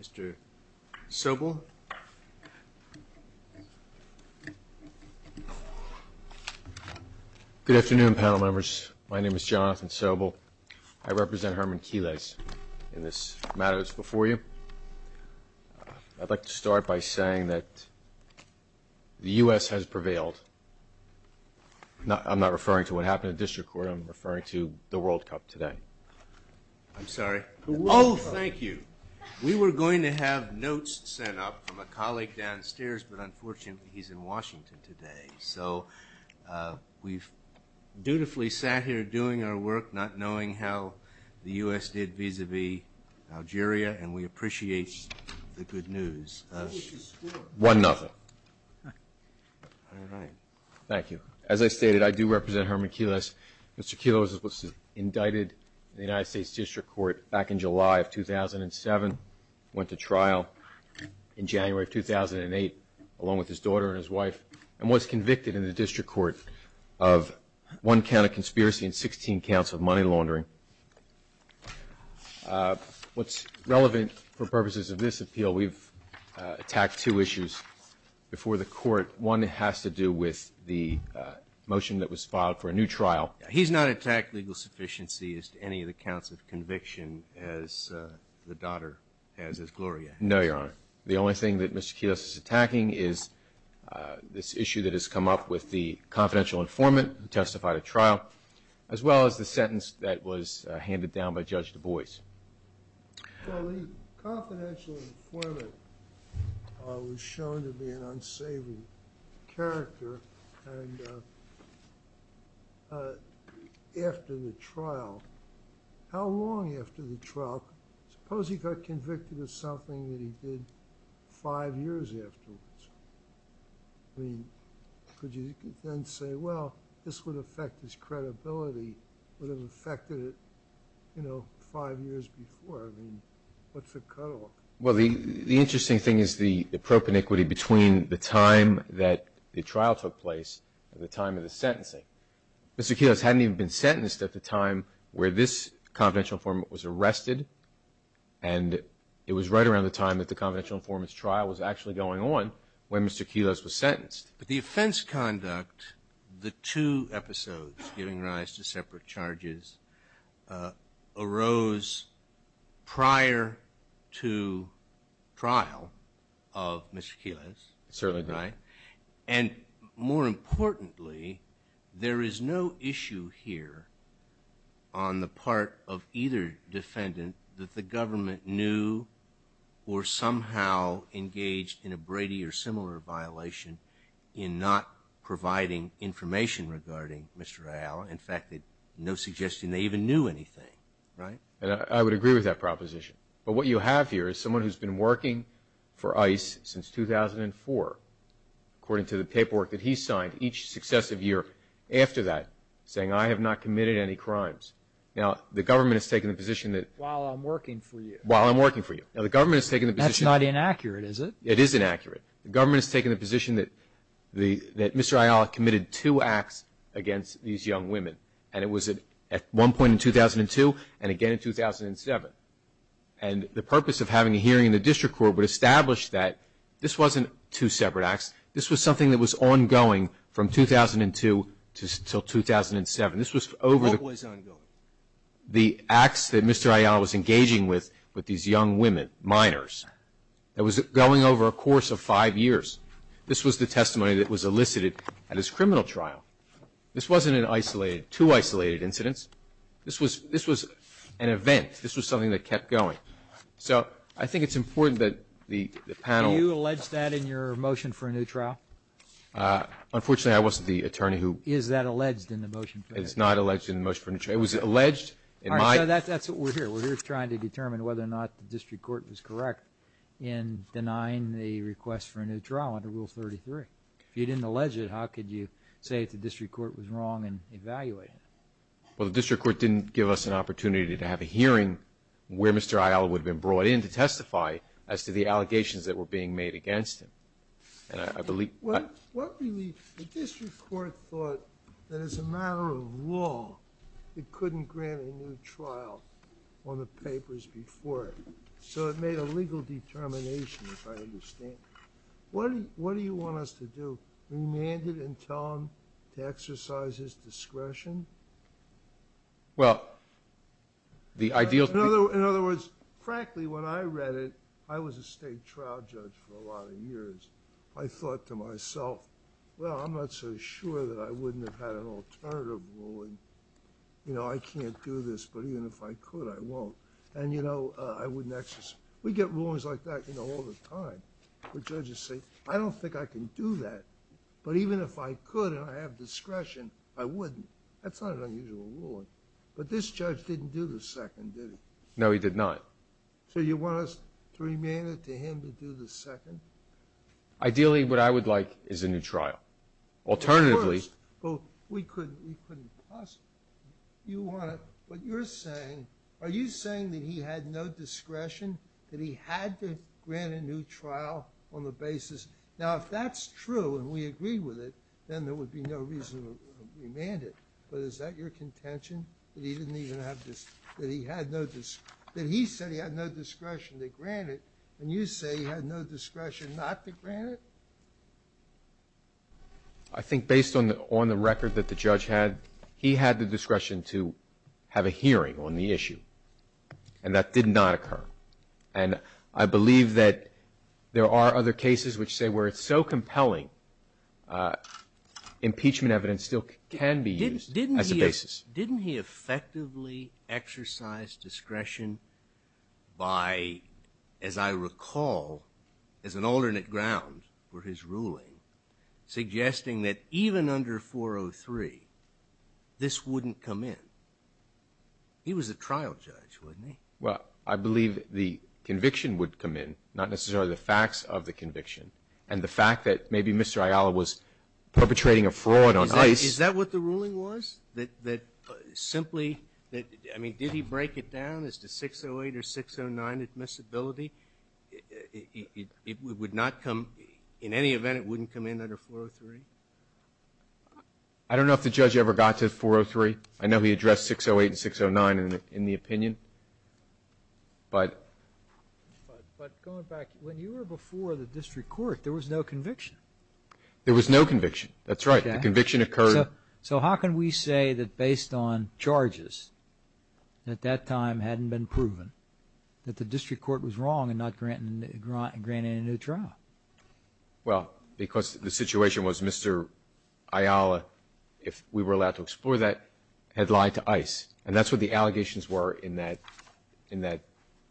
Mr. Sobel. Good afternoon, panel members. My name is Jonathan Sobel. I represent Herman Quiles in this matter that's before you. I'd like to start by saying that the U.S. has prevailed. I'm not referring to what happened at district court. I'm referring to the World Cup today. I'm sorry. The World Cup. Oh, thank you. We were going to have notes sent up from a colleague downstairs, but unfortunately he's in Washington today. So we've dutifully sat here doing our work, not knowing how the U.S. did vis-à-vis Algeria, and we appreciate the good news. One another. All right. Thank you. As I stated, I do represent Herman Quiles. Mr. Quiles was indicted in the United States District Court back in July of 2007, went to trial in January of 2008 along with his daughter and his wife, and was convicted in the district court of one count of conspiracy and 16 counts of money laundering. What's relevant for purposes of this appeal, we've attacked two issues before the court. One has to do with the motion that was filed for a new trial. He's not attacked legal sufficiency as to any of the counts of conviction as the daughter has as Gloria. No, Your Honor. The only thing that Mr. Quiles is attacking is this issue that has come up with the confidential informant who testified at trial as well as the sentence that was handed down by Judge Du Bois. Well, the confidential informant was shown to be an unsavory character after the trial. How long after the trial? Suppose he got convicted of something that he did five years afterwards. I mean, could you then say, well, this would affect his credibility, would have affected it, you know, five years before? I mean, what's the cutoff? Well, the interesting thing is the pro paniquity between the time that the trial took place and the time of the sentencing. Mr. Quiles hadn't even been sentenced at the time where this confidential informant was arrested, and it was right around the time that the confidential informant's trial was actually going on when Mr. Quiles was sentenced. But the offense conduct, the two episodes giving rise to separate charges, arose prior to trial of Mr. Quiles. Certainly. Right? And more importantly, there is no issue here on the part of either defendant that the government knew or somehow engaged in a Brady or similar violation in not providing information regarding Mr. Ayala. In fact, no suggestion they even knew anything. Right? I would agree with that proposition. But what you have here is someone who's been working for ICE since 2004, according to the paperwork that he signed each successive year after that, saying, I have not committed any crimes. Now, the government has taken the position that While I'm working for you. While I'm working for you. Now, the government has taken the position That's not inaccurate, is it? It is inaccurate. The government has taken the position that Mr. Ayala committed two acts against these young women, and it was at one point in 2002 and again in 2007. And the purpose of having a hearing in the district court would establish that this wasn't two separate acts. This was something that was ongoing from 2002 until 2007. This was over The hope was ongoing. The acts that Mr. Ayala was engaging with, with these young women, minors, that was going over a course of five years. This was the testimony that was elicited at his criminal trial. This wasn't an isolated, two isolated incidents. This was an event. This was something that kept going. So I think it's important that the panel Do you allege that in your motion for a new trial? Unfortunately, I wasn't the attorney who Is that alleged in the motion for a new trial? It's not alleged in the motion for a new trial. It was alleged in my All right, so that's what we're here. We're here trying to determine whether or not the district court was correct in denying the request for a new trial under Rule 33. If you didn't allege it, how could you say the district court was wrong and evaluate it? Well, the district court didn't give us an opportunity to have a hearing where Mr. Ayala would have been brought in to testify as to the allegations that were being made against him. And I believe The district court thought that as a matter of law, it couldn't grant a new trial on the papers before it. So it made a legal determination, if I understand. What do you want us to do? Remand it and tell him to exercise his discretion? Well, the ideal In other words, frankly, when I read it, I was a state trial judge for a lot of years. I thought to myself, well, I'm not so sure that I wouldn't have had an alternative ruling. You know, I can't do this, but even if I could, I won't. And, you know, I wouldn't exercise We get rulings like that, you know, all the time, where judges say, I don't think I can do that. But even if I could and I have discretion, I wouldn't. That's not an unusual ruling. But this judge didn't do the second, did he? No, he did not. So you want us to remand it to him to do the second? Ideally, what I would like is a new trial. Well, of course, but we couldn't possibly. What you're saying, are you saying that he had no discretion? That he had to grant a new trial on the basis Now, if that's true and we agree with it, then there would be no reason to remand it. But is that your contention? That he said he had no discretion to grant it, and you say he had no discretion not to grant it? I think based on the record that the judge had, he had the discretion to have a hearing on the issue. And that did not occur. And I believe that there are other cases which say where it's so compelling, impeachment evidence still can be used as a basis. Didn't he effectively exercise discretion by, as I recall, as an alternate ground for his ruling, suggesting that even under 403, this wouldn't come in? He was a trial judge, wasn't he? Well, I believe the conviction would come in, not necessarily the facts of the conviction. And the fact that maybe Mr. Ayala was perpetrating a fraud on ICE. Is that what the ruling was? That simply, I mean, did he break it down as to 608 or 609 admissibility? It would not come, in any event, it wouldn't come in under 403? I don't know if the judge ever got to 403. I know he addressed 608 and 609 in the opinion. But going back, when you were before the district court, there was no conviction. There was no conviction. That's right. The conviction occurred. So how can we say that based on charges, that that time hadn't been proven, that the district court was wrong and not granting a new trial? Well, because the situation was Mr. Ayala, if we were allowed to explore that, had lied to ICE. And that's what the allegations were in that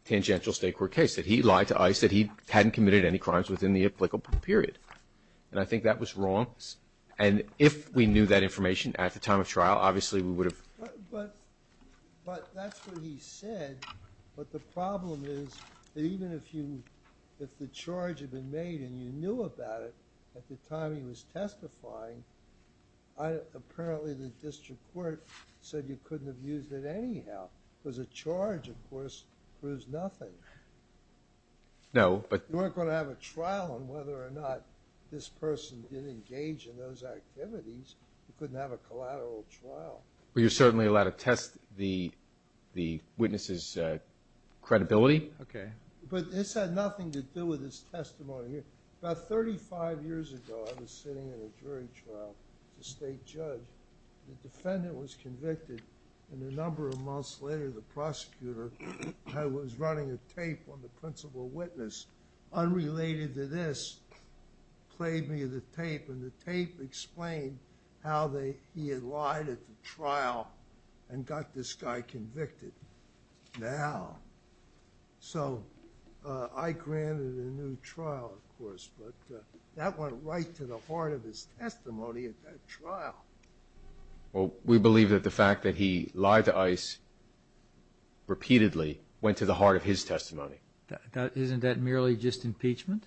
tangential state court case, that he lied to ICE, that he hadn't committed any crimes within the applicable period. And I think that was wrong. And if we knew that information at the time of trial, obviously we would have. But that's what he said. But the problem is that even if the charge had been made and you knew about it at the time he was testifying, apparently the district court said you couldn't have used it anyhow. Because a charge, of course, proves nothing. No. You weren't going to have a trial on whether or not this person did engage in those activities. You couldn't have a collateral trial. Well, you're certainly allowed to test the witness' credibility. Okay. But this had nothing to do with his testimony. About 35 years ago I was sitting in a jury trial as a state judge. The defendant was convicted, and a number of months later the prosecutor was running a tape on the principal witness unrelated to this, played me the tape, and the tape explained how he had lied at the trial and got this guy convicted. Now. So I granted a new trial, of course, but that went right to the heart of his testimony at that trial. Well, we believe that the fact that he lied to ICE repeatedly went to the heart of his testimony. Isn't that merely just impeachment?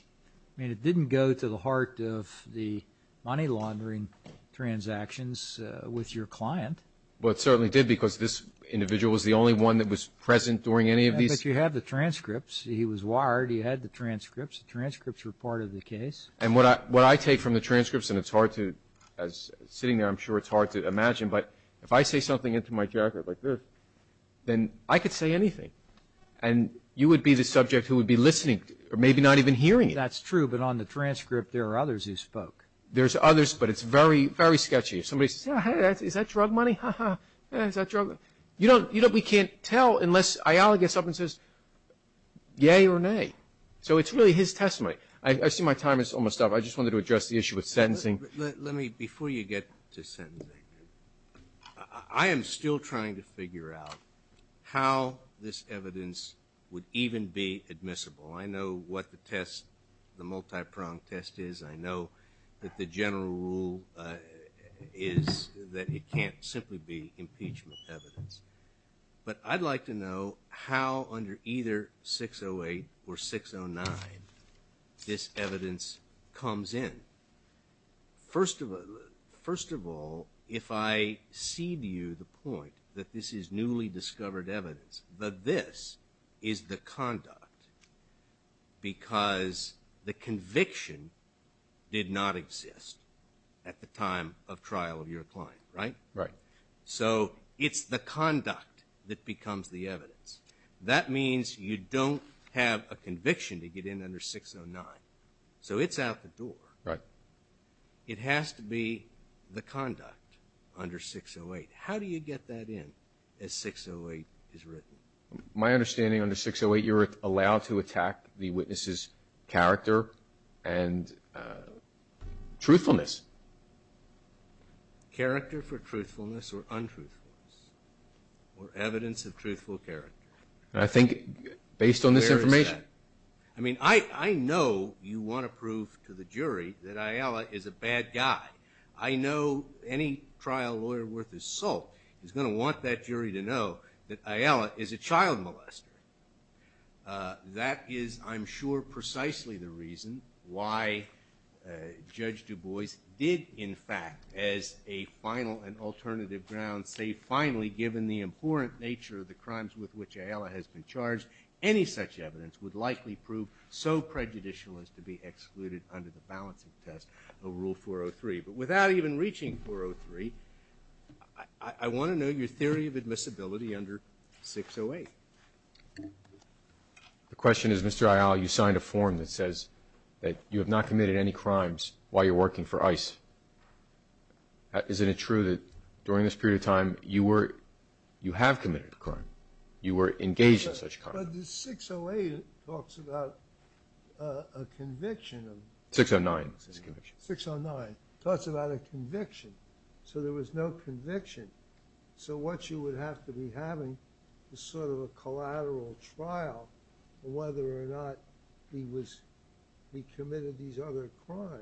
I mean, it didn't go to the heart of the money laundering transactions with your client. Well, it certainly did because this individual was the only one that was present during any of these. But you have the transcripts. He was wired. He had the transcripts. The transcripts were part of the case. And what I take from the transcripts, and it's hard to, sitting there I'm sure it's hard to imagine, but if I say something into my jacket like this, then I could say anything. And you would be the subject who would be listening, or maybe not even hearing it. That's true, but on the transcript there are others who spoke. There's others, but it's very, very sketchy. If somebody says, hey, is that drug money? Ha, ha, is that drug money? You know we can't tell unless Ayala gets up and says, yay or nay. So it's really his testimony. I see my time is almost up. I just wanted to address the issue with sentencing. Let me, before you get to sentencing, I am still trying to figure out how this evidence would even be admissible. I know what the test, the multi-pronged test is. I know that the general rule is that it can't simply be impeachment evidence. But I'd like to know how under either 608 or 609 this evidence comes in. First of all, if I cede you the point that this is newly discovered evidence, that this is the conduct because the conviction did not exist at the time of trial of your client, right? Right. So it's the conduct that becomes the evidence. That means you don't have a conviction to get in under 609. So it's out the door. Right. It has to be the conduct under 608. How do you get that in as 608 is written? My understanding under 608, you're allowed to attack the witness's character and truthfulness. Character for truthfulness or untruthfulness or evidence of truthful character. I think based on this information. I mean, I know you want to prove to the jury that Ayala is a bad guy. I know any trial lawyer worth his salt is going to want that jury to know that Ayala is a child molester. That is, I'm sure, precisely the reason why Judge Du Bois did, in fact, as a final and alternative ground, say finally, given the abhorrent nature of the crimes with which Ayala has been charged, any such evidence would likely prove so prejudicial as to be excluded under the balancing test of Rule 403. But without even reaching 403, I want to know your theory of admissibility under 608. The question is, Mr. Ayala, you signed a form that says that you have not committed any crimes while you're working for ICE. Isn't it true that during this period of time you were, you have committed a crime? You were engaged in such a crime? But the 608 talks about a conviction. 609 says conviction. 609 talks about a conviction. So there was no conviction. So what you would have to be having is sort of a collateral trial of whether or not he was, he committed these other crimes.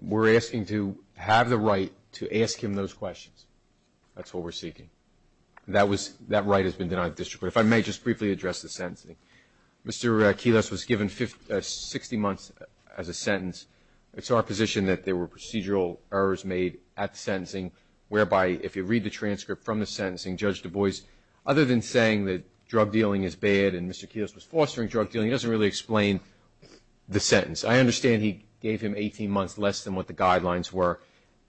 We're asking to have the right to ask him those questions. That's what we're seeking. That was, that right has been denied the district court. If I may just briefly address the sentencing. Mr. Quiles was given 60 months as a sentence. It's our position that there were procedural errors made at the sentencing, whereby if you read the transcript from the sentencing, Judge Du Bois, other than saying that drug dealing is bad and Mr. Quiles was fostering drug dealing, he doesn't really explain the sentence. I understand he gave him 18 months less than what the guidelines were,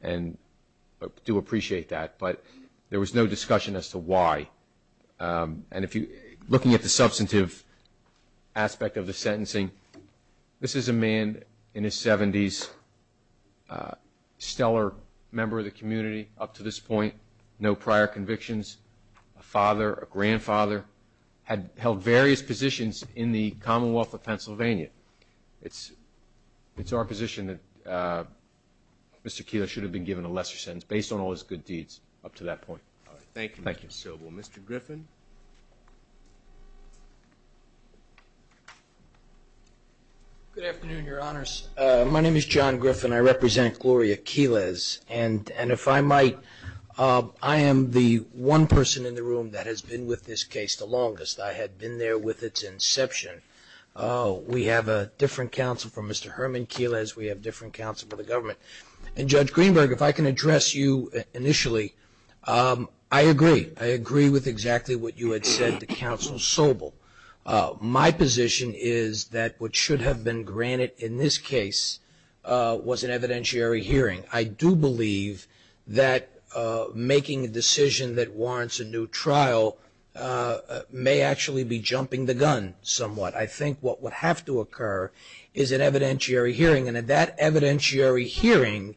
and I do appreciate that. But there was no discussion as to why. And if you, looking at the substantive aspect of the sentencing, this is a man in his 70s, stellar member of the community up to this point, no prior convictions, a father, a grandfather, had held various positions in the Commonwealth of Pennsylvania. It's our position that Mr. Quiles should have been given a lesser sentence based on all his good deeds up to that point. All right. Thank you, Mr. Sobel. Mr. Griffin. Good afternoon, Your Honors. My name is John Griffin. I represent Gloria Quiles, and if I might, I am the one person in the room that has been with this case the longest. I had been there with its inception. We have a different counsel from Mr. Herman Quiles. We have different counsel for the government. And, Judge Greenberg, if I can address you initially, I agree. I agree with exactly what you had said to Counsel Sobel. My position is that what should have been granted in this case was an evidentiary hearing. I do believe that making a decision that warrants a new trial may actually be jumping the gun somewhat. I think what would have to occur is an evidentiary hearing, and at that evidentiary hearing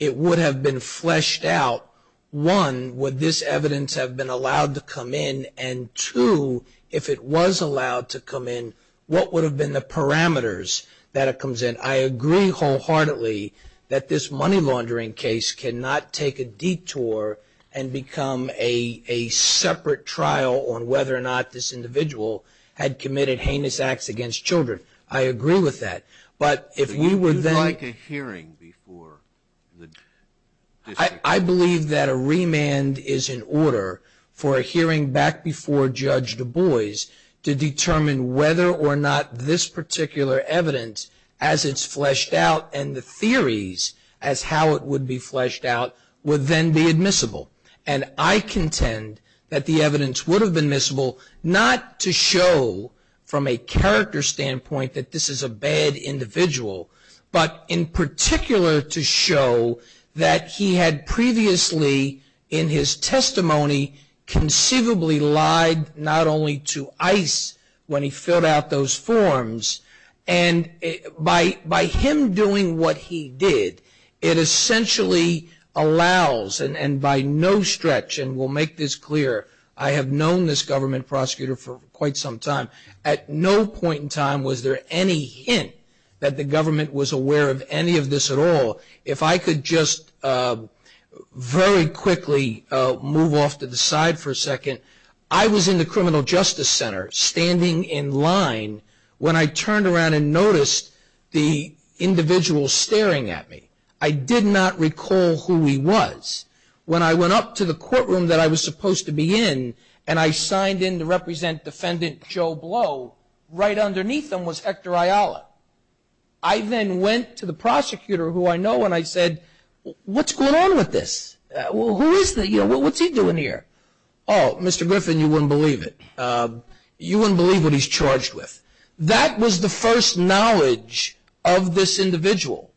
it would have been fleshed out, one, would this evidence have been allowed to come in, and two, if it was allowed to come in, what would have been the parameters that it comes in? I agree wholeheartedly that this money laundering case cannot take a detour and become a separate trial on whether or not this individual had committed heinous acts against children. I agree with that. But if we were then… Would you like a hearing before the district? I believe that a remand is in order for a hearing back before Judge Du Bois to determine whether or not this particular evidence, as it's fleshed out, and the theories as how it would be fleshed out, would then be admissible. And I contend that the evidence would have been admissible, not to show from a character standpoint that this is a bad individual, but in particular to show that he had previously, in his testimony, conceivably lied not only to ICE when he filled out those forms, and by him doing what he did, it essentially allows, and by no stretch, and we'll make this clear, I have known this government prosecutor for quite some time, at no point in time was there any hint that the government was aware of any of this at all. If I could just very quickly move off to the side for a second, I was in the Criminal Justice Center standing in line when I turned around and noticed the individual staring at me. I did not recall who he was. When I went up to the courtroom that I was supposed to be in, and I signed in to represent Defendant Joe Blow, right underneath him was Hector Ayala. I then went to the prosecutor, who I know, and I said, what's going on with this? Who is he? What's he doing here? Oh, Mr. Griffin, you wouldn't believe it. You wouldn't believe what he's charged with. That was the first knowledge of this individual.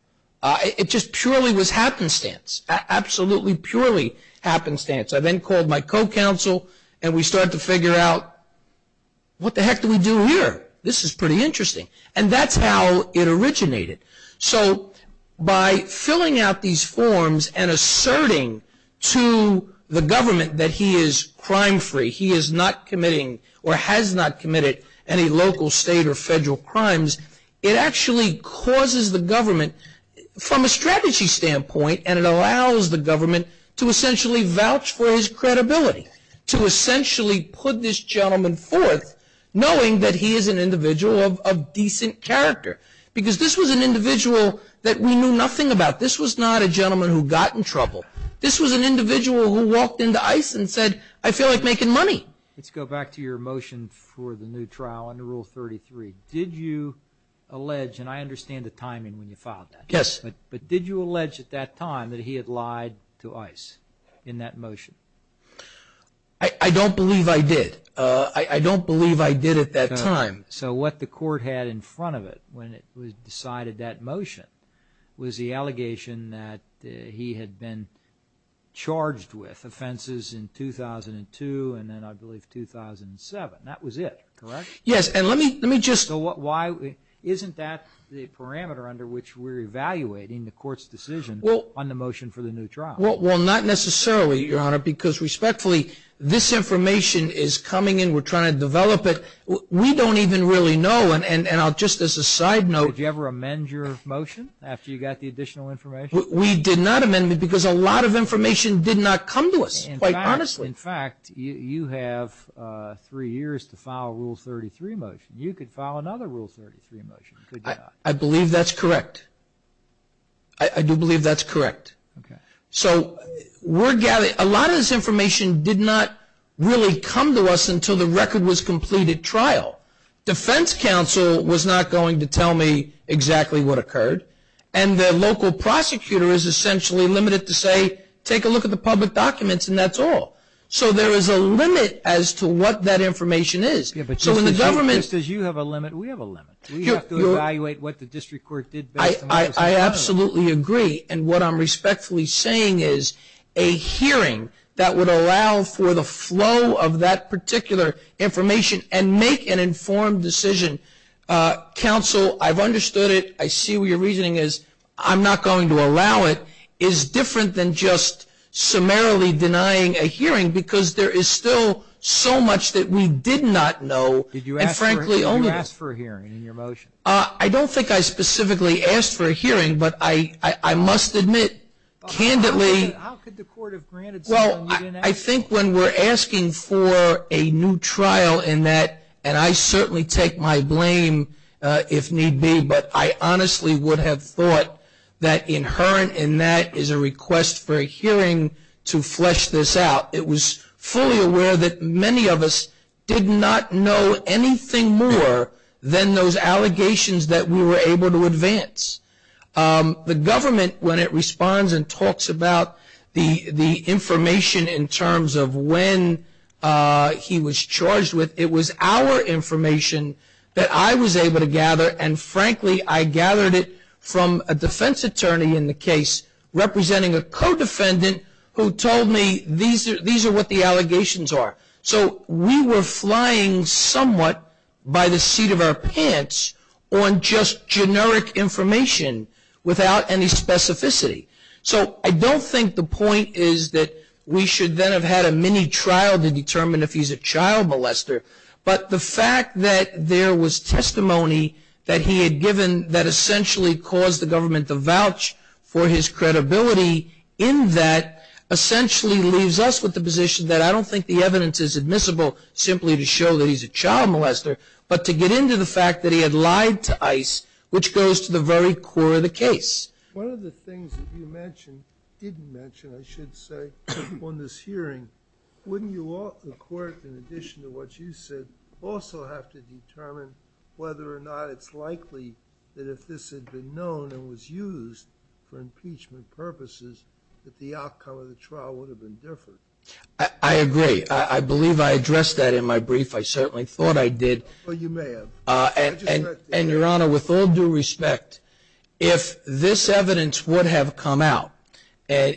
It just purely was happenstance, absolutely purely happenstance. I then called my co-counsel, and we started to figure out, what the heck do we do here? This is pretty interesting. And that's how it originated. So by filling out these forms and asserting to the government that he is crime-free, he is not committing or has not committed any local, state, or federal crimes, it actually causes the government, from a strategy standpoint, and it allows the government to essentially vouch for his credibility, to essentially put this gentleman forth knowing that he is an individual of decent character. Because this was an individual that we knew nothing about. This was not a gentleman who got in trouble. This was an individual who walked into ICE and said, I feel like making money. Let's go back to your motion for the new trial under Rule 33. Did you allege, and I understand the timing when you filed that. Yes. But did you allege at that time that he had lied to ICE in that motion? I don't believe I did. I don't believe I did at that time. So what the court had in front of it when it decided that motion was the allegation that he had been charged with offenses in 2002 and then, I believe, 2007. That was it, correct? Yes. So why isn't that the parameter under which we're evaluating the court's decision on the motion for the new trial? Well, not necessarily, Your Honor, because respectfully, this information is coming in. We're trying to develop it. We don't even really know, and just as a side note. Did you ever amend your motion after you got the additional information? We did not amend it because a lot of information did not come to us, quite honestly. In fact, you have three years to file a Rule 33 motion. You could file another Rule 33 motion, could you not? I believe that's correct. I do believe that's correct. So a lot of this information did not really come to us until the record was completed trial. And the local prosecutor is essentially limited to say, take a look at the public documents and that's all. So there is a limit as to what that information is. Just as you have a limit, we have a limit. We have to evaluate what the district court did best. I absolutely agree. And what I'm respectfully saying is a hearing that would allow for the flow of that particular information and make an informed decision. Counsel, I've understood it. I see where your reasoning is. I'm not going to allow it. It's different than just summarily denying a hearing because there is still so much that we did not know. Did you ask for a hearing in your motion? I don't think I specifically asked for a hearing, but I must admit, candidly. How could the court have granted something you didn't ask for? I think when we're asking for a new trial in that, and I certainly take my blame if need be, but I honestly would have thought that inherent in that is a request for a hearing to flesh this out. It was fully aware that many of us did not know anything more than those allegations that we were able to advance. The government, when it responds and talks about the information in terms of when he was charged with, it was our information that I was able to gather, and frankly, I gathered it from a defense attorney in the case representing a co-defendant who told me these are what the allegations are. So we were flying somewhat by the seat of our pants on just generic information without any specificity. So I don't think the point is that we should then have had a mini-trial to determine if he's a child molester, but the fact that there was testimony that he had given that essentially caused the government to vouch for his credibility in that essentially leaves us with the position that I don't think the evidence is admissible simply to show that he's a child molester, but to get into the fact that he had lied to ICE, which goes to the very core of the case. One of the things that you mentioned, didn't mention, I should say, on this hearing, wouldn't the court, in addition to what you said, also have to determine whether or not it's likely that if this had been known and was used for impeachment purposes, that the outcome of the trial would have been different. I agree. I believe I addressed that in my brief. I certainly thought I did. Well, you may have. And, Your Honor, with all due respect, if this evidence would have come out,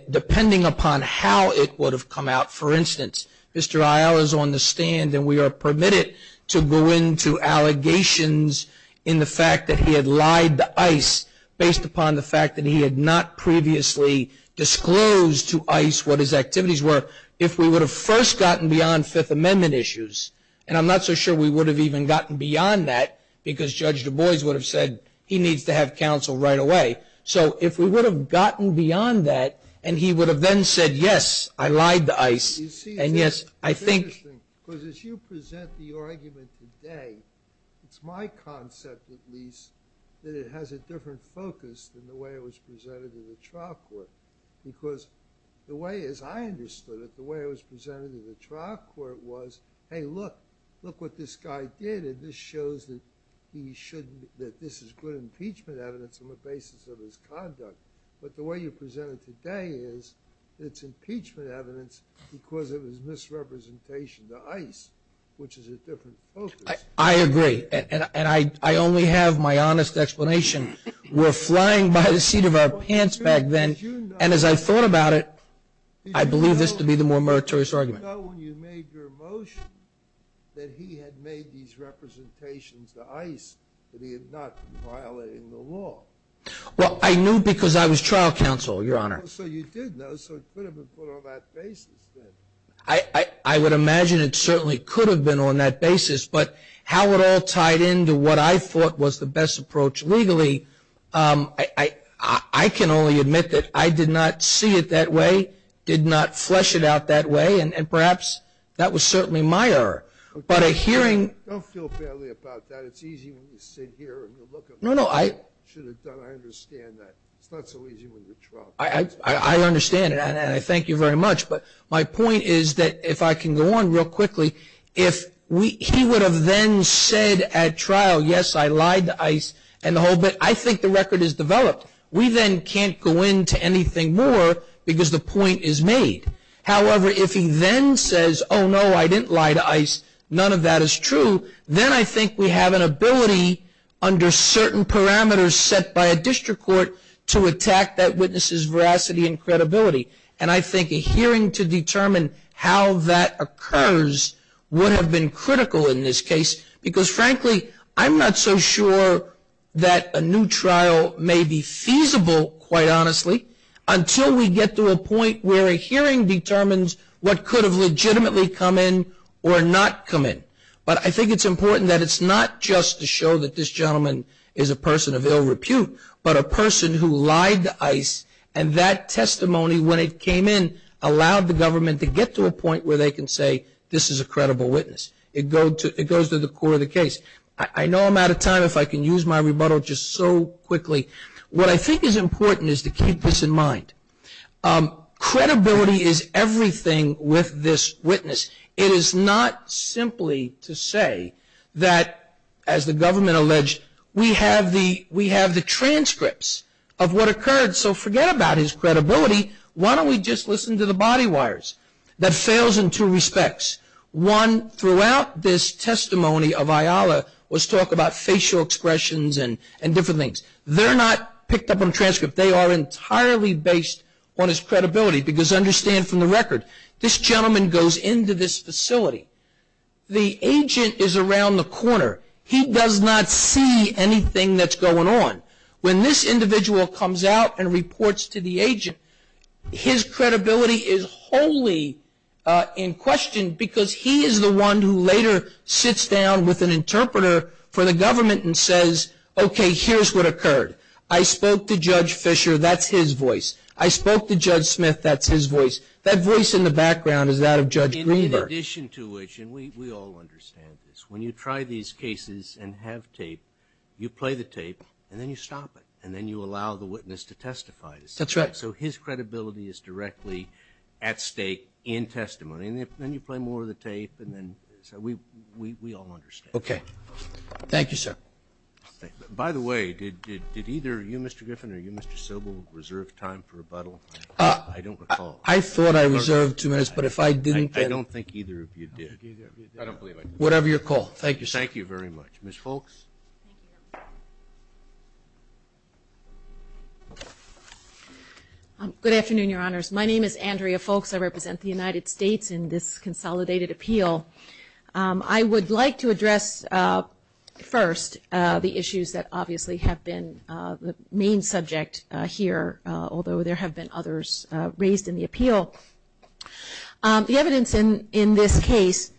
depending upon how it would have come out, for instance, Mr. Isle is on the stand and we are permitted to go into allegations in the fact that he had lied to ICE based upon the fact that he had not previously disclosed to ICE what his activities were. If we would have first gotten beyond Fifth Amendment issues, and I'm not so sure we would have even gotten beyond that because Judge Du Bois would have said he needs to have counsel right away. So if we would have gotten beyond that and he would have then said, yes, I lied to ICE, and yes, I think. It's interesting because as you present the argument today, it's my concept, at least, that it has a different focus than the way it was presented in the trial court. Because the way as I understood it, the way it was presented in the trial court was, hey, look, look what this guy did and this shows that this is good impeachment evidence on the basis of his conduct. But the way you present it today is it's impeachment evidence because it was misrepresentation to ICE, which is a different focus. I agree, and I only have my honest explanation. We're flying by the seat of our pants back then, and as I thought about it, I believe this to be the more meritorious argument. Did you know when you made your motion that he had made these representations to ICE that he had not been violating the law? Well, I knew because I was trial counsel, Your Honor. So you did know, so it could have been put on that basis then. I would imagine it certainly could have been on that basis, but how it all tied into what I thought was the best approach legally, I can only admit that I did not see it that way, did not flesh it out that way, and perhaps that was certainly my error. Don't feel badly about that. It's easy when you sit here and you look at what you should have done. I understand that. It's not so easy when you're trial counsel. I understand, and I thank you very much. But my point is that if I can go on real quickly, if he would have then said at trial, yes, I lied to ICE and the whole bit, I think the record is developed. We then can't go into anything more because the point is made. However, if he then says, oh, no, I didn't lie to ICE, none of that is true, then I think we have an ability under certain parameters set by a district court to attack that witness's veracity and credibility. And I think a hearing to determine how that occurs would have been critical in this case because, frankly, I'm not so sure that a new trial may be feasible, quite honestly, until we get to a point where a hearing determines what could have legitimately come in or not come in. But I think it's important that it's not just to show that this gentleman is a person of ill repute, but a person who lied to ICE and that testimony, when it came in, allowed the government to get to a point where they can say this is a credible witness. It goes to the core of the case. I know I'm out of time if I can use my rebuttal just so quickly. What I think is important is to keep this in mind. Credibility is everything with this witness. It is not simply to say that, as the government alleged, we have the transcripts of what occurred, so forget about his credibility. Why don't we just listen to the body wires? That fails in two respects. One, throughout this testimony of Ayala was talk about facial expressions and different things. They're not picked up on a transcript. They are entirely based on his credibility because, understand from the record, this gentleman goes into this facility. The agent is around the corner. He does not see anything that's going on. When this individual comes out and reports to the agent, his credibility is wholly in question because he is the one who later sits down with an interpreter for the government and says, okay, here's what occurred. I spoke to Judge Fisher. That's his voice. I spoke to Judge Smith. That's his voice. That voice in the background is that of Judge Greenberg. In addition to which, and we all understand this, when you try these cases and have tape, you play the tape and then you stop it and then you allow the witness to testify. That's right. So his credibility is directly at stake in testimony. And then you play more of the tape and then so we all understand. Okay. Thank you, sir. By the way, did either you, Mr. Griffin, or you, Mr. Sobel, reserve time for rebuttal? I don't recall. I thought I reserved two minutes, but if I didn't. I don't think either of you did. I don't believe I did. Whatever your call. Thank you, sir. Thank you very much. Ms. Foulkes. Good afternoon, Your Honors. My name is Andrea Foulkes. I represent the United States in this consolidated appeal. I would like to address first the issues that obviously have been the main subject here, although there have been others raised in the appeal. The evidence in this case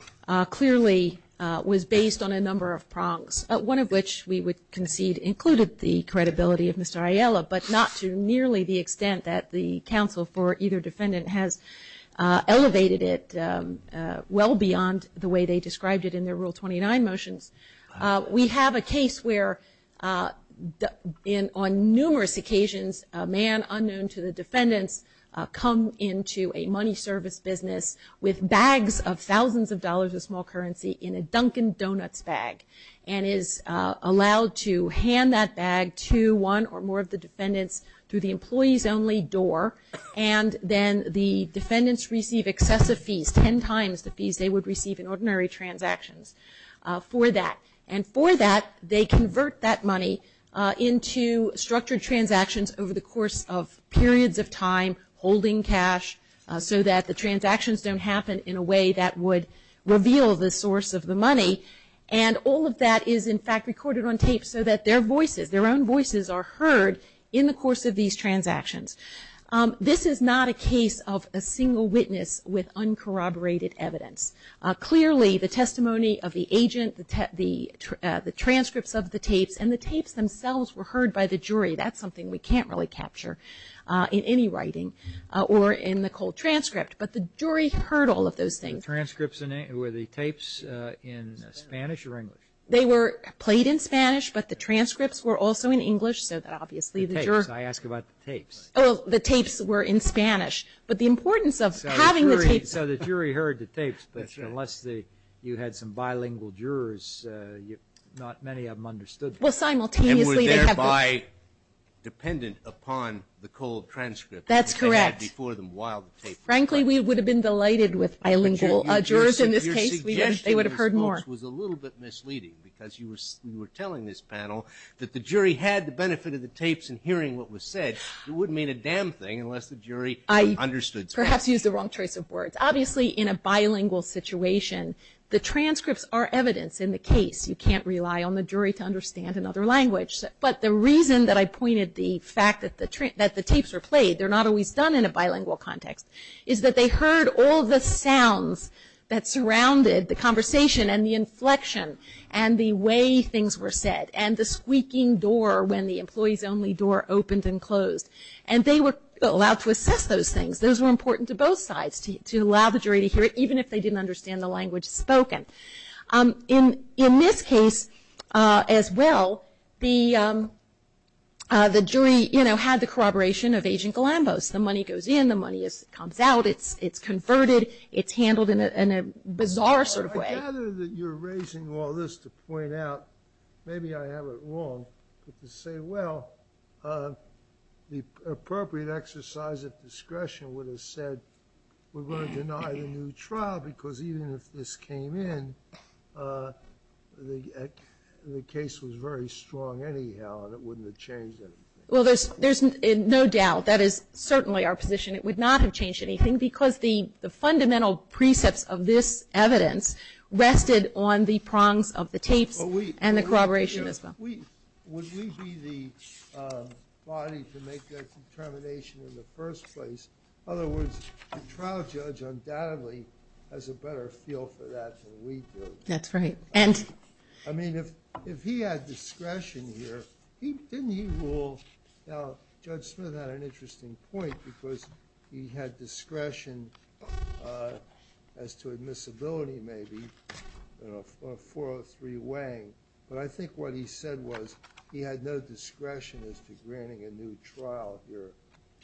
clearly was based on a number of prongs, one of which we would concede included the credibility of Mr. Ayala, but not to nearly the extent that the counsel for either defendant has elevated it well beyond the way they described it in their Rule 29 motions. We have a case where, on numerous occasions, a man unknown to the defendants come into a money service business with bags of thousands of dollars of small currency in a Dunkin' Donuts bag and is allowed to hand that bag to one or more of the defendants through the employees-only door, and then the defendants receive excessive fees, ten times the fees they would receive in ordinary transactions, for that. And for that, they convert that money into structured transactions over the course of periods of time, holding cash, so that the transactions don't happen in a way that would reveal the source of the money. And all of that is, in fact, recorded on tape so that their voices, their own voices are heard in the course of these transactions. This is not a case of a single witness with uncorroborated evidence. Clearly, the testimony of the agent, the transcripts of the tapes, and the tapes themselves were heard by the jury. That's something we can't really capture in any writing or in the cold transcript, but the jury heard all of those things. The transcripts were the tapes in Spanish or English? They were played in Spanish, but the transcripts were also in English, so that obviously the juror- The tapes, I asked about the tapes. Oh, the tapes were in Spanish. But the importance of having the tapes- So the jury heard the tapes, but unless you had some bilingual jurors, not many of them understood them. Well, simultaneously- And were thereby dependent upon the cold transcript- That's correct. That they had before them while the tape- Frankly, we would have been delighted with bilingual jurors in this case. They would have heard more. Your suggestion, I suppose, was a little bit misleading, because you were telling this panel that the jury had the benefit of the tapes and hearing what was said. It wouldn't mean a damn thing unless the jury understood Spanish. I perhaps used the wrong choice of words. Obviously, in a bilingual situation, the transcripts are evidence in the case. You can't rely on the jury to understand another language. But the reason that I pointed the fact that the tapes were played, they're not always done in a bilingual context, is that they heard all the sounds that surrounded the conversation and the inflection and the way things were said and the squeaking door when the employees-only door opened and closed. And they were allowed to assess those things. Those were important to both sides to allow the jury to hear it, even if they didn't understand the language spoken. In this case as well, the jury, you know, had the corroboration of Agent Galambos. The money goes in. The money comes out. It's converted. It's handled in a bizarre sort of way. I gather that you're raising all this to point out, maybe I have it wrong, but to say, well, the appropriate exercise of discretion would have said, we're going to deny the new trial because even if this came in, the case was very strong anyhow and it wouldn't have changed anything. Well, there's no doubt. That is certainly our position. It would not have changed anything because the fundamental precepts of this evidence rested on the prongs of the tapes and the corroboration as well. Would we be the body to make that determination in the first place? In other words, the trial judge undoubtedly has a better feel for that than we do. That's right. I mean, if he had discretion here, didn't he rule? Judge Smith had an interesting point because he had discretion as to admissibility maybe, 403 Wang, but I think what he said was he had no discretion as to granting a new trial here.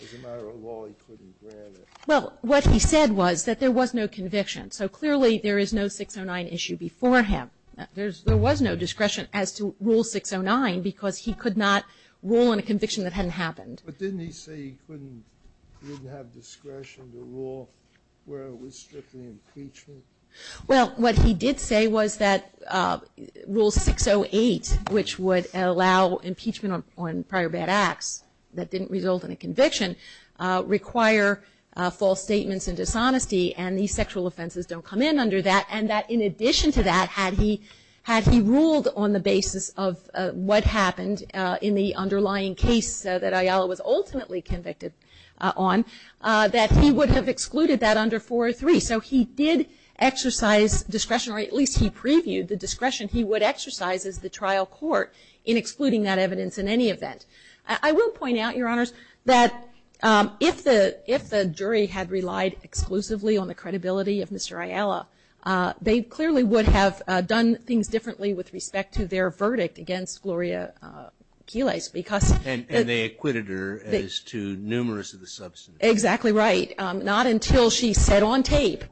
As a matter of law, he couldn't grant it. Well, what he said was that there was no conviction. So clearly there is no 609 issue before him. There was no discretion as to Rule 609 because he could not rule on a conviction that hadn't happened. But didn't he say he couldn't have discretion to rule where it was strictly impeachment? Well, what he did say was that Rule 608, which would allow impeachment on prior bad acts that didn't result in a conviction, require false statements and dishonesty and these sexual offenses don't come in under that and that in addition to that, had he ruled on the basis of what happened in the underlying case that Ayala was ultimately convicted on, that he would have excluded that under 403. So he did exercise discretion, or at least he previewed the discretion he would exercise as the trial court in excluding that evidence in any event. I will point out, Your Honors, that if the jury had relied exclusively on the credibility of Mr. Ayala, they clearly would have done things differently with respect to their verdict against Gloria Quiles because And they acquitted her as to numerous of the substance. Exactly right. Not until she said on tape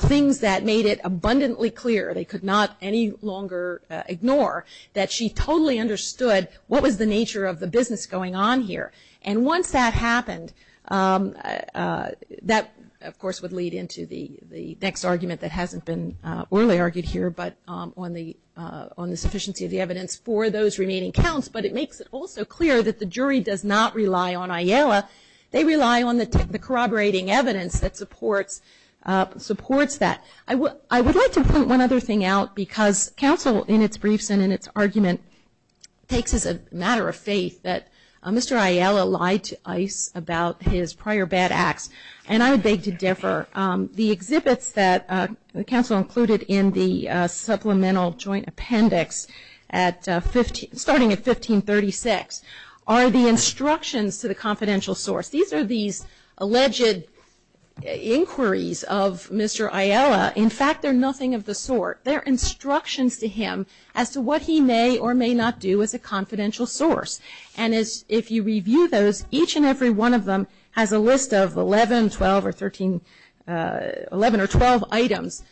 things that made it abundantly clear, they could not any longer ignore, that she totally understood what was the nature of the business going on here. And once that happened, that of course would lead into the next argument that hasn't been orally argued here, but on the sufficiency of the evidence for those remaining counts, but it makes it also clear that the jury does not rely on Ayala. They rely on the corroborating evidence that supports that. I would like to point one other thing out because counsel in its briefs and in its argument takes as a matter of faith that Mr. Ayala lied to ICE about his prior bad acts. And I would beg to differ. The exhibits that counsel included in the supplemental joint appendix starting at 1536 are the instructions to the confidential source. These are these alleged inquiries of Mr. Ayala. In fact, they're nothing of the sort. They're instructions to him as to what he may or may not do as a confidential source. And if you review those, each and every one of them has a list of 11, 12, or 13, 11 or 12 items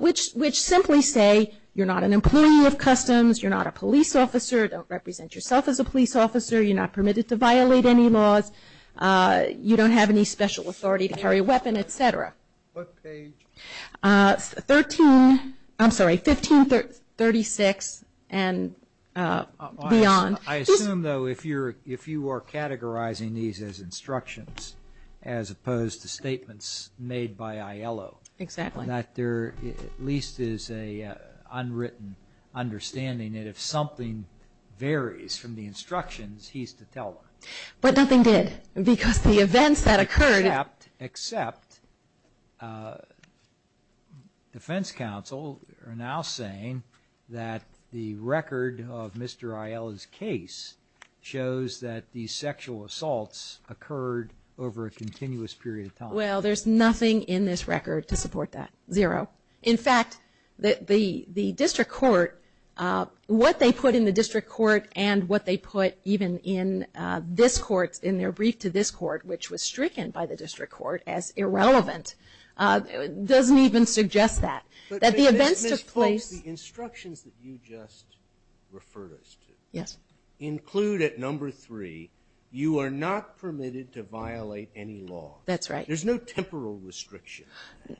which simply say you're not an employee of customs, you're not a police officer, don't represent yourself as a police officer, you're not permitted to violate any laws, you don't have any special authority to carry a weapon, et cetera. What page? Thirteen, I'm sorry, 1536 and beyond. I assume, though, if you are categorizing these as instructions as opposed to statements made by Ayala. Exactly. That there at least is an unwritten understanding that if something varies from the instructions, he's to tell them. But nothing did because the events that occurred except defense counsel are now saying that the record of Mr. Ayala's case shows that the sexual assaults occurred over a continuous period of time. Well, there's nothing in this record to support that, zero. In fact, the district court, what they put in the district court and what they put even in this court, in their brief to this court, which was stricken by the district court as irrelevant, doesn't even suggest that. That the events took place. But Ms. Fultz, the instructions that you just referred us to. Yes. Include at number three, you are not permitted to violate any law. That's right. There's no temporal restriction.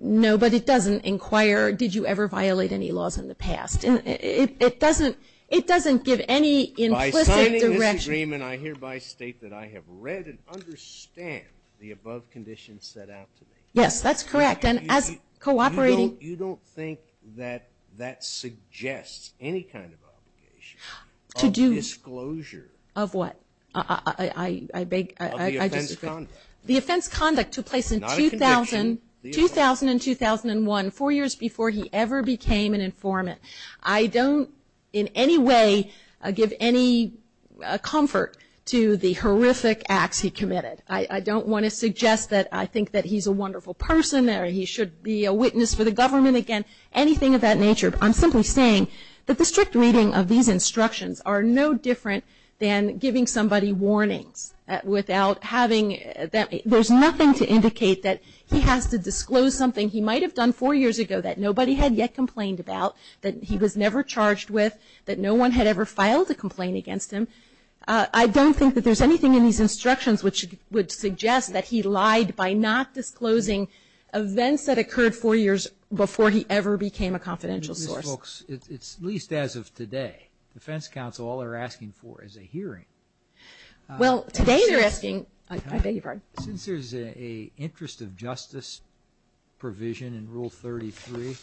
No, but it doesn't inquire did you ever violate any laws in the past. It doesn't give any implicit direction. Ms. Freeman, I hereby state that I have read and understand the above conditions set out to me. Yes, that's correct. And as cooperating. You don't think that that suggests any kind of obligation of disclosure? Of what? Of the offense conduct. The offense conduct to place in 2000 and 2001, four years before he ever became an informant. I don't in any way give any comfort to the horrific acts he committed. I don't want to suggest that I think that he's a wonderful person or he should be a witness for the government again. Anything of that nature. I'm simply saying that the strict reading of these instructions are no different than giving somebody warnings without having that. There's nothing to indicate that he has to disclose something he might have done four years ago that nobody had yet complained about, that he was never charged with, that no one had ever filed a complaint against him. I don't think that there's anything in these instructions which would suggest that he lied by not disclosing events that occurred four years before he ever became a confidential source. It's at least as of today. Defense counsel, all they're asking for is a hearing. Well, today they're asking. I beg your pardon. Since there's an interest of justice provision in Rule 33,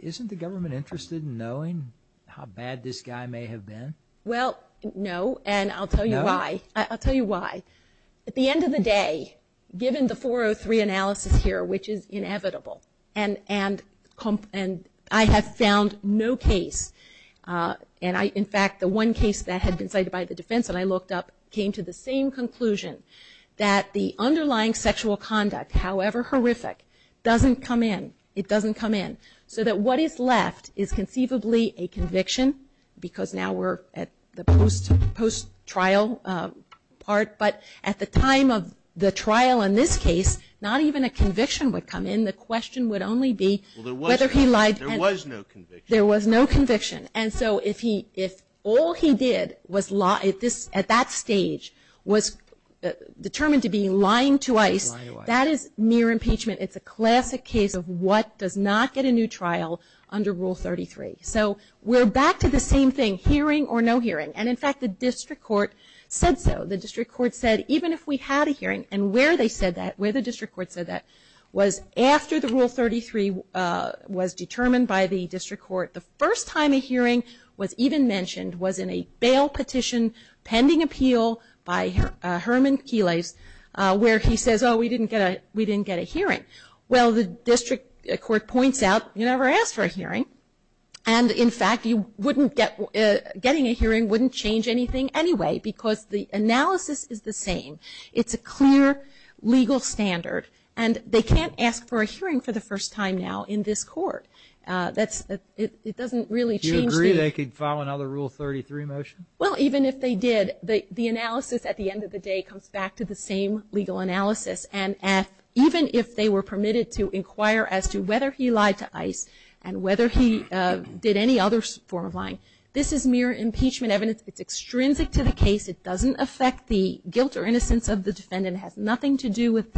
isn't the government interested in knowing how bad this guy may have been? Well, no, and I'll tell you why. No? I'll tell you why. At the end of the day, given the 403 analysis here, which is inevitable, and I have found no case, and in fact the one case that had been cited by the defense that I looked up came to the same conclusion, that the underlying sexual conduct, however horrific, doesn't come in. It doesn't come in. So that what is left is conceivably a conviction because now we're at the post-trial part. But at the time of the trial in this case, not even a conviction would come in. The question would only be whether he lied. There was no conviction. There was no conviction. And so if all he did at that stage was determined to be lying to ICE, that is near impeachment. It's a classic case of what does not get a new trial under Rule 33. So we're back to the same thing, hearing or no hearing. And, in fact, the district court said so. The district court said even if we had a hearing, and where they said that, where the district court said that, was after the Rule 33 was determined by the district court. The first time a hearing was even mentioned was in a bail petition pending appeal by Herman Keles where he says, oh, we didn't get a hearing. Well, the district court points out, you never asked for a hearing. And, in fact, getting a hearing wouldn't change anything anyway because the analysis is the same. It's a clear legal standard. And they can't ask for a hearing for the first time now in this court. It doesn't really change the- Do you agree they could file another Rule 33 motion? Well, even if they did, the analysis at the end of the day comes back to the same legal analysis. And even if they were permitted to inquire as to whether he lied to ICE and whether he did any other form of lying, this is mere impeachment evidence. It's extrinsic to the case. It doesn't affect the guilt or innocence of the defendant. It has nothing to do with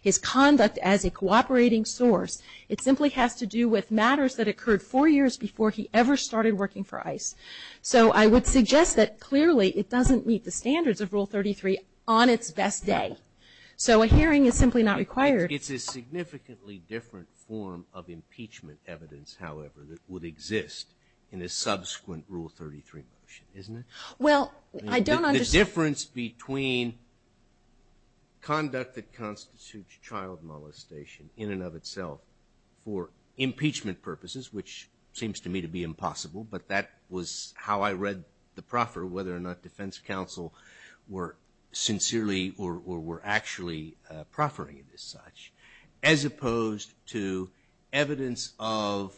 his conduct as a cooperating source. It simply has to do with matters that occurred four years before he ever started working for ICE. So I would suggest that, clearly, it doesn't meet the standards of Rule 33 on its best day. So a hearing is simply not required. It's a significantly different form of impeachment evidence, however, that would exist in a subsequent Rule 33 motion, isn't it? Well, I don't understand- The difference between conduct that constitutes child molestation in and of itself for impeachment purposes, which seems to me to be impossible, but that was how I read the proffer, whether or not defense counsel were sincerely or were actually proffering it as such, as opposed to evidence of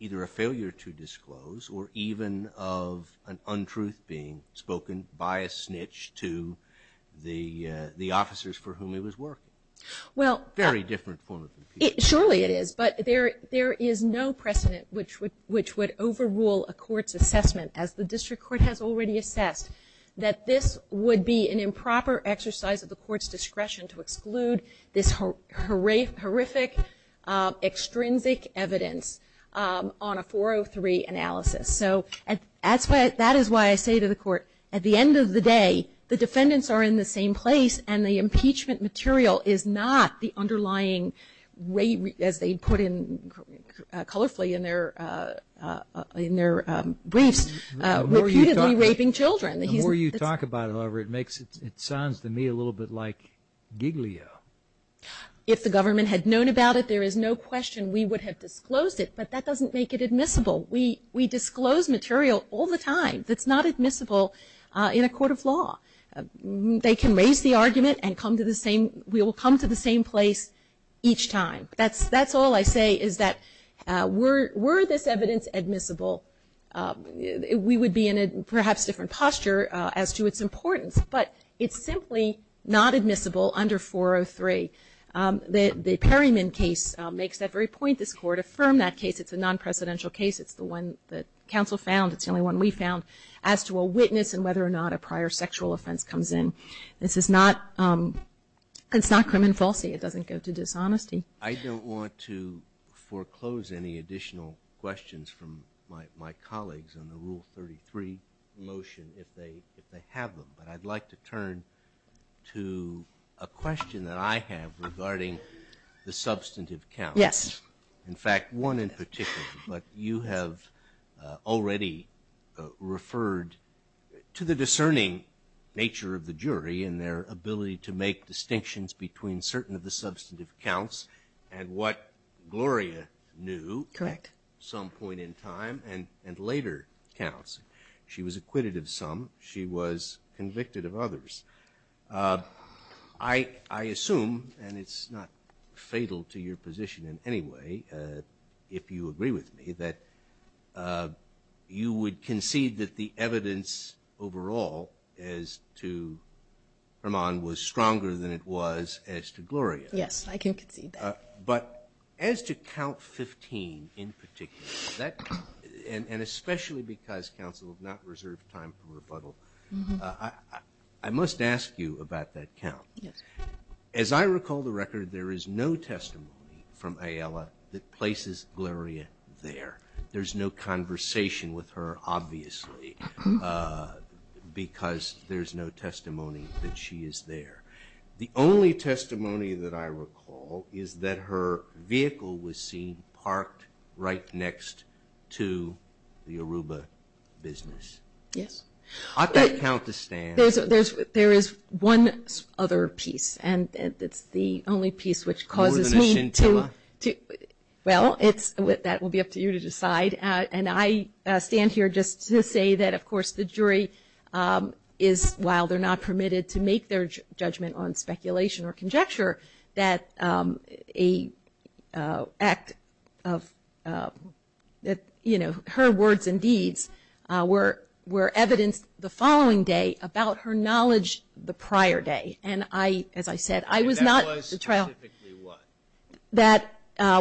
either a failure to disclose or even of an untruth being spoken by a snitch to the officers for whom he was working. Well- Very different form of impeachment. Surely it is, but there is no precedent which would overrule a court's assessment, as the district court has already assessed, that this would be an improper exercise of the court's discretion to exclude this horrific, extrinsic evidence on a 403 analysis. So that is why I say to the court, at the end of the day, the defendants are in the same place and the impeachment material is not the underlying rape, as they put in colorfully in their briefs, repeatedly raping children. The more you talk about it, however, it sounds to me a little bit like Giglio. If the government had known about it, there is no question we would have disclosed it, but that doesn't make it admissible. We disclose material all the time that's not admissible in a court of law. They can raise the argument and we will come to the same place each time. That's all I say, is that were this evidence admissible, we would be in a perhaps different posture as to its importance, but it's simply not admissible under 403. The Perryman case makes that very point. This court affirmed that case. It's a non-presidential case. It's the one that counsel found. It's the only one we found as to a witness and whether or not a prior sexual offense comes in. This is not crime and falsity. It doesn't go to dishonesty. I don't want to foreclose any additional questions from my colleagues on the Rule 33 motion if they have them, but I'd like to turn to a question that I have regarding the substantive counts. Yes. In fact, one in particular, but you have already referred to the discerning nature of the jury and their ability to make distinctions between certain of the substantive counts and what Gloria knew at some point in time and later counts. She was acquitted of some. She was convicted of others. I assume, and it's not fatal to your position in any way if you agree with me, that you would concede that the evidence overall as to Hermon was stronger than it was as to Gloria. Yes, I can concede that. But as to count 15 in particular, and especially because counsel has not reserved time for rebuttal, I must ask you about that count. As I recall the record, there is no testimony from Ayala that places Gloria there. There's no conversation with her, obviously, because there's no testimony that she is there. The only testimony that I recall is that her vehicle was seen parked right next to the Aruba business. Yes. I've got a count to stand. There is one other piece, and it's the only piece which causes me to… More than a scintilla? Well, that will be up to you to decide. And I stand here just to say that, of course, the jury is, while they're not permitted to make their judgment on speculation or conjecture, that her words and deeds were evidenced the following day about her knowledge the prior day. And I, as I said, I was not… And that was specifically what? That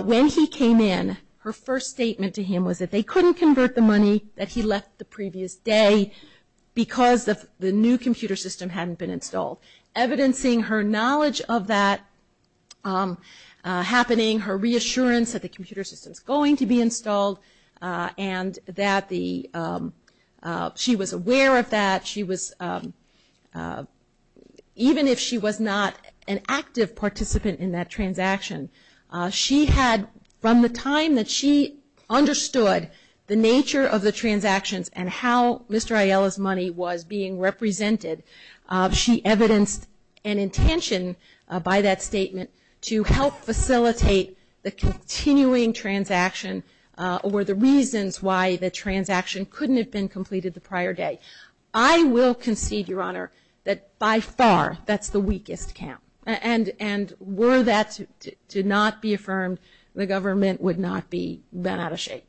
when he came in, her first statement to him was that they couldn't convert the money that he left the previous day because the new computer system hadn't been installed. Evidencing her knowledge of that happening, her reassurance that the computer system is going to be installed, and that she was aware of that, even if she was not an active participant in that transaction. She had, from the time that she understood the nature of the transactions and how Mr. Aiello's money was being represented, she evidenced an intention by that statement to help facilitate the continuing transaction or the reasons why the transaction couldn't have been completed the prior day. I will concede, Your Honor, that by far that's the weakest count. And were that to not be affirmed, the government would not be out of shape.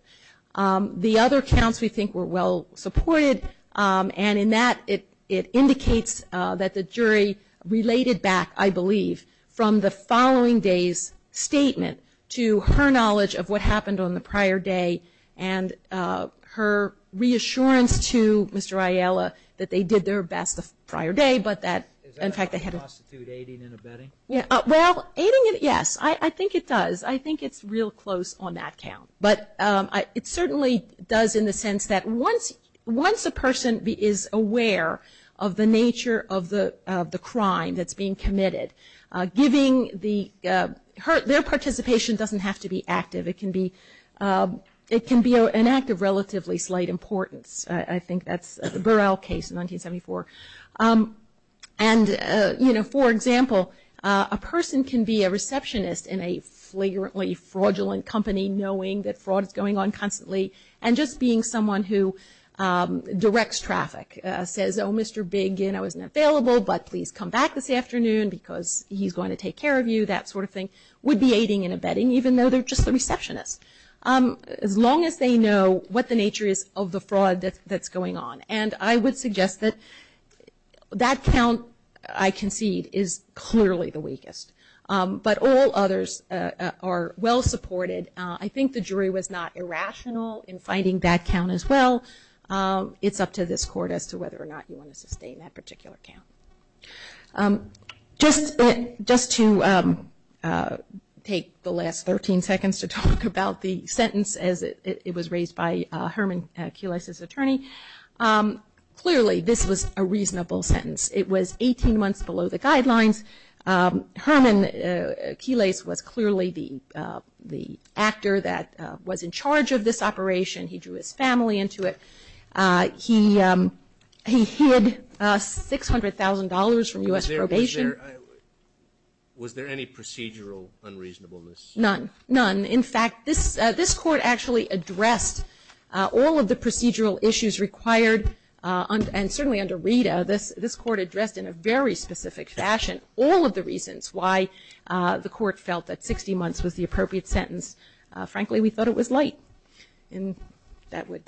The other counts, we think, were well supported. And in that, it indicates that the jury related back, I believe, from the following day's statement to her knowledge of what happened on the prior day and her reassurance to Mr. Aiello that they did their best the prior day, but that… Is that how you constitute aiding and abetting? Well, aiding, yes. I think it does. I think it's real close on that count. But it certainly does in the sense that once a person is aware of the nature of the crime that's being committed, giving their participation doesn't have to be active. It can be an act of relatively slight importance. I think that's the Burrell case in 1974. And, you know, for example, a person can be a receptionist in a flagrantly fraudulent company knowing that fraud is going on constantly. And just being someone who directs traffic, says, oh, Mr. Biggin, I wasn't available, but please come back this afternoon because he's going to take care of you, that sort of thing, would be aiding and abetting even though they're just the receptionist. As long as they know what the nature is of the fraud that's going on. And I would suggest that that count, I concede, is clearly the weakest. But all others are well supported. I think the jury was not irrational in finding that count as well. It's up to this court as to whether or not you want to sustain that particular count. Just to take the last 13 seconds to talk about the sentence, as it was raised by Herman Quiles's attorney, clearly this was a reasonable sentence. It was 18 months below the guidelines. Herman Quiles was clearly the actor that was in charge of this operation. He drew his family into it. He hid $600,000 from U.S. probation. Was there any procedural unreasonableness? None, none. In fact, this court actually addressed all of the procedural issues required, and certainly under RITA, this court addressed in a very specific fashion all of the reasons why the court felt that 60 months was the appropriate sentence. Frankly, we thought it was light. And that would,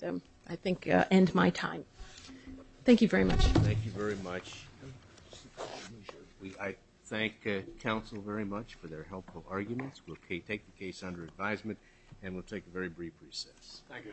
I think, end my time. Thank you very much. Thank you very much. I thank counsel very much for their helpful arguments. We'll take the case under advisement, and we'll take a very brief recess. Thank you. Thank you, sir.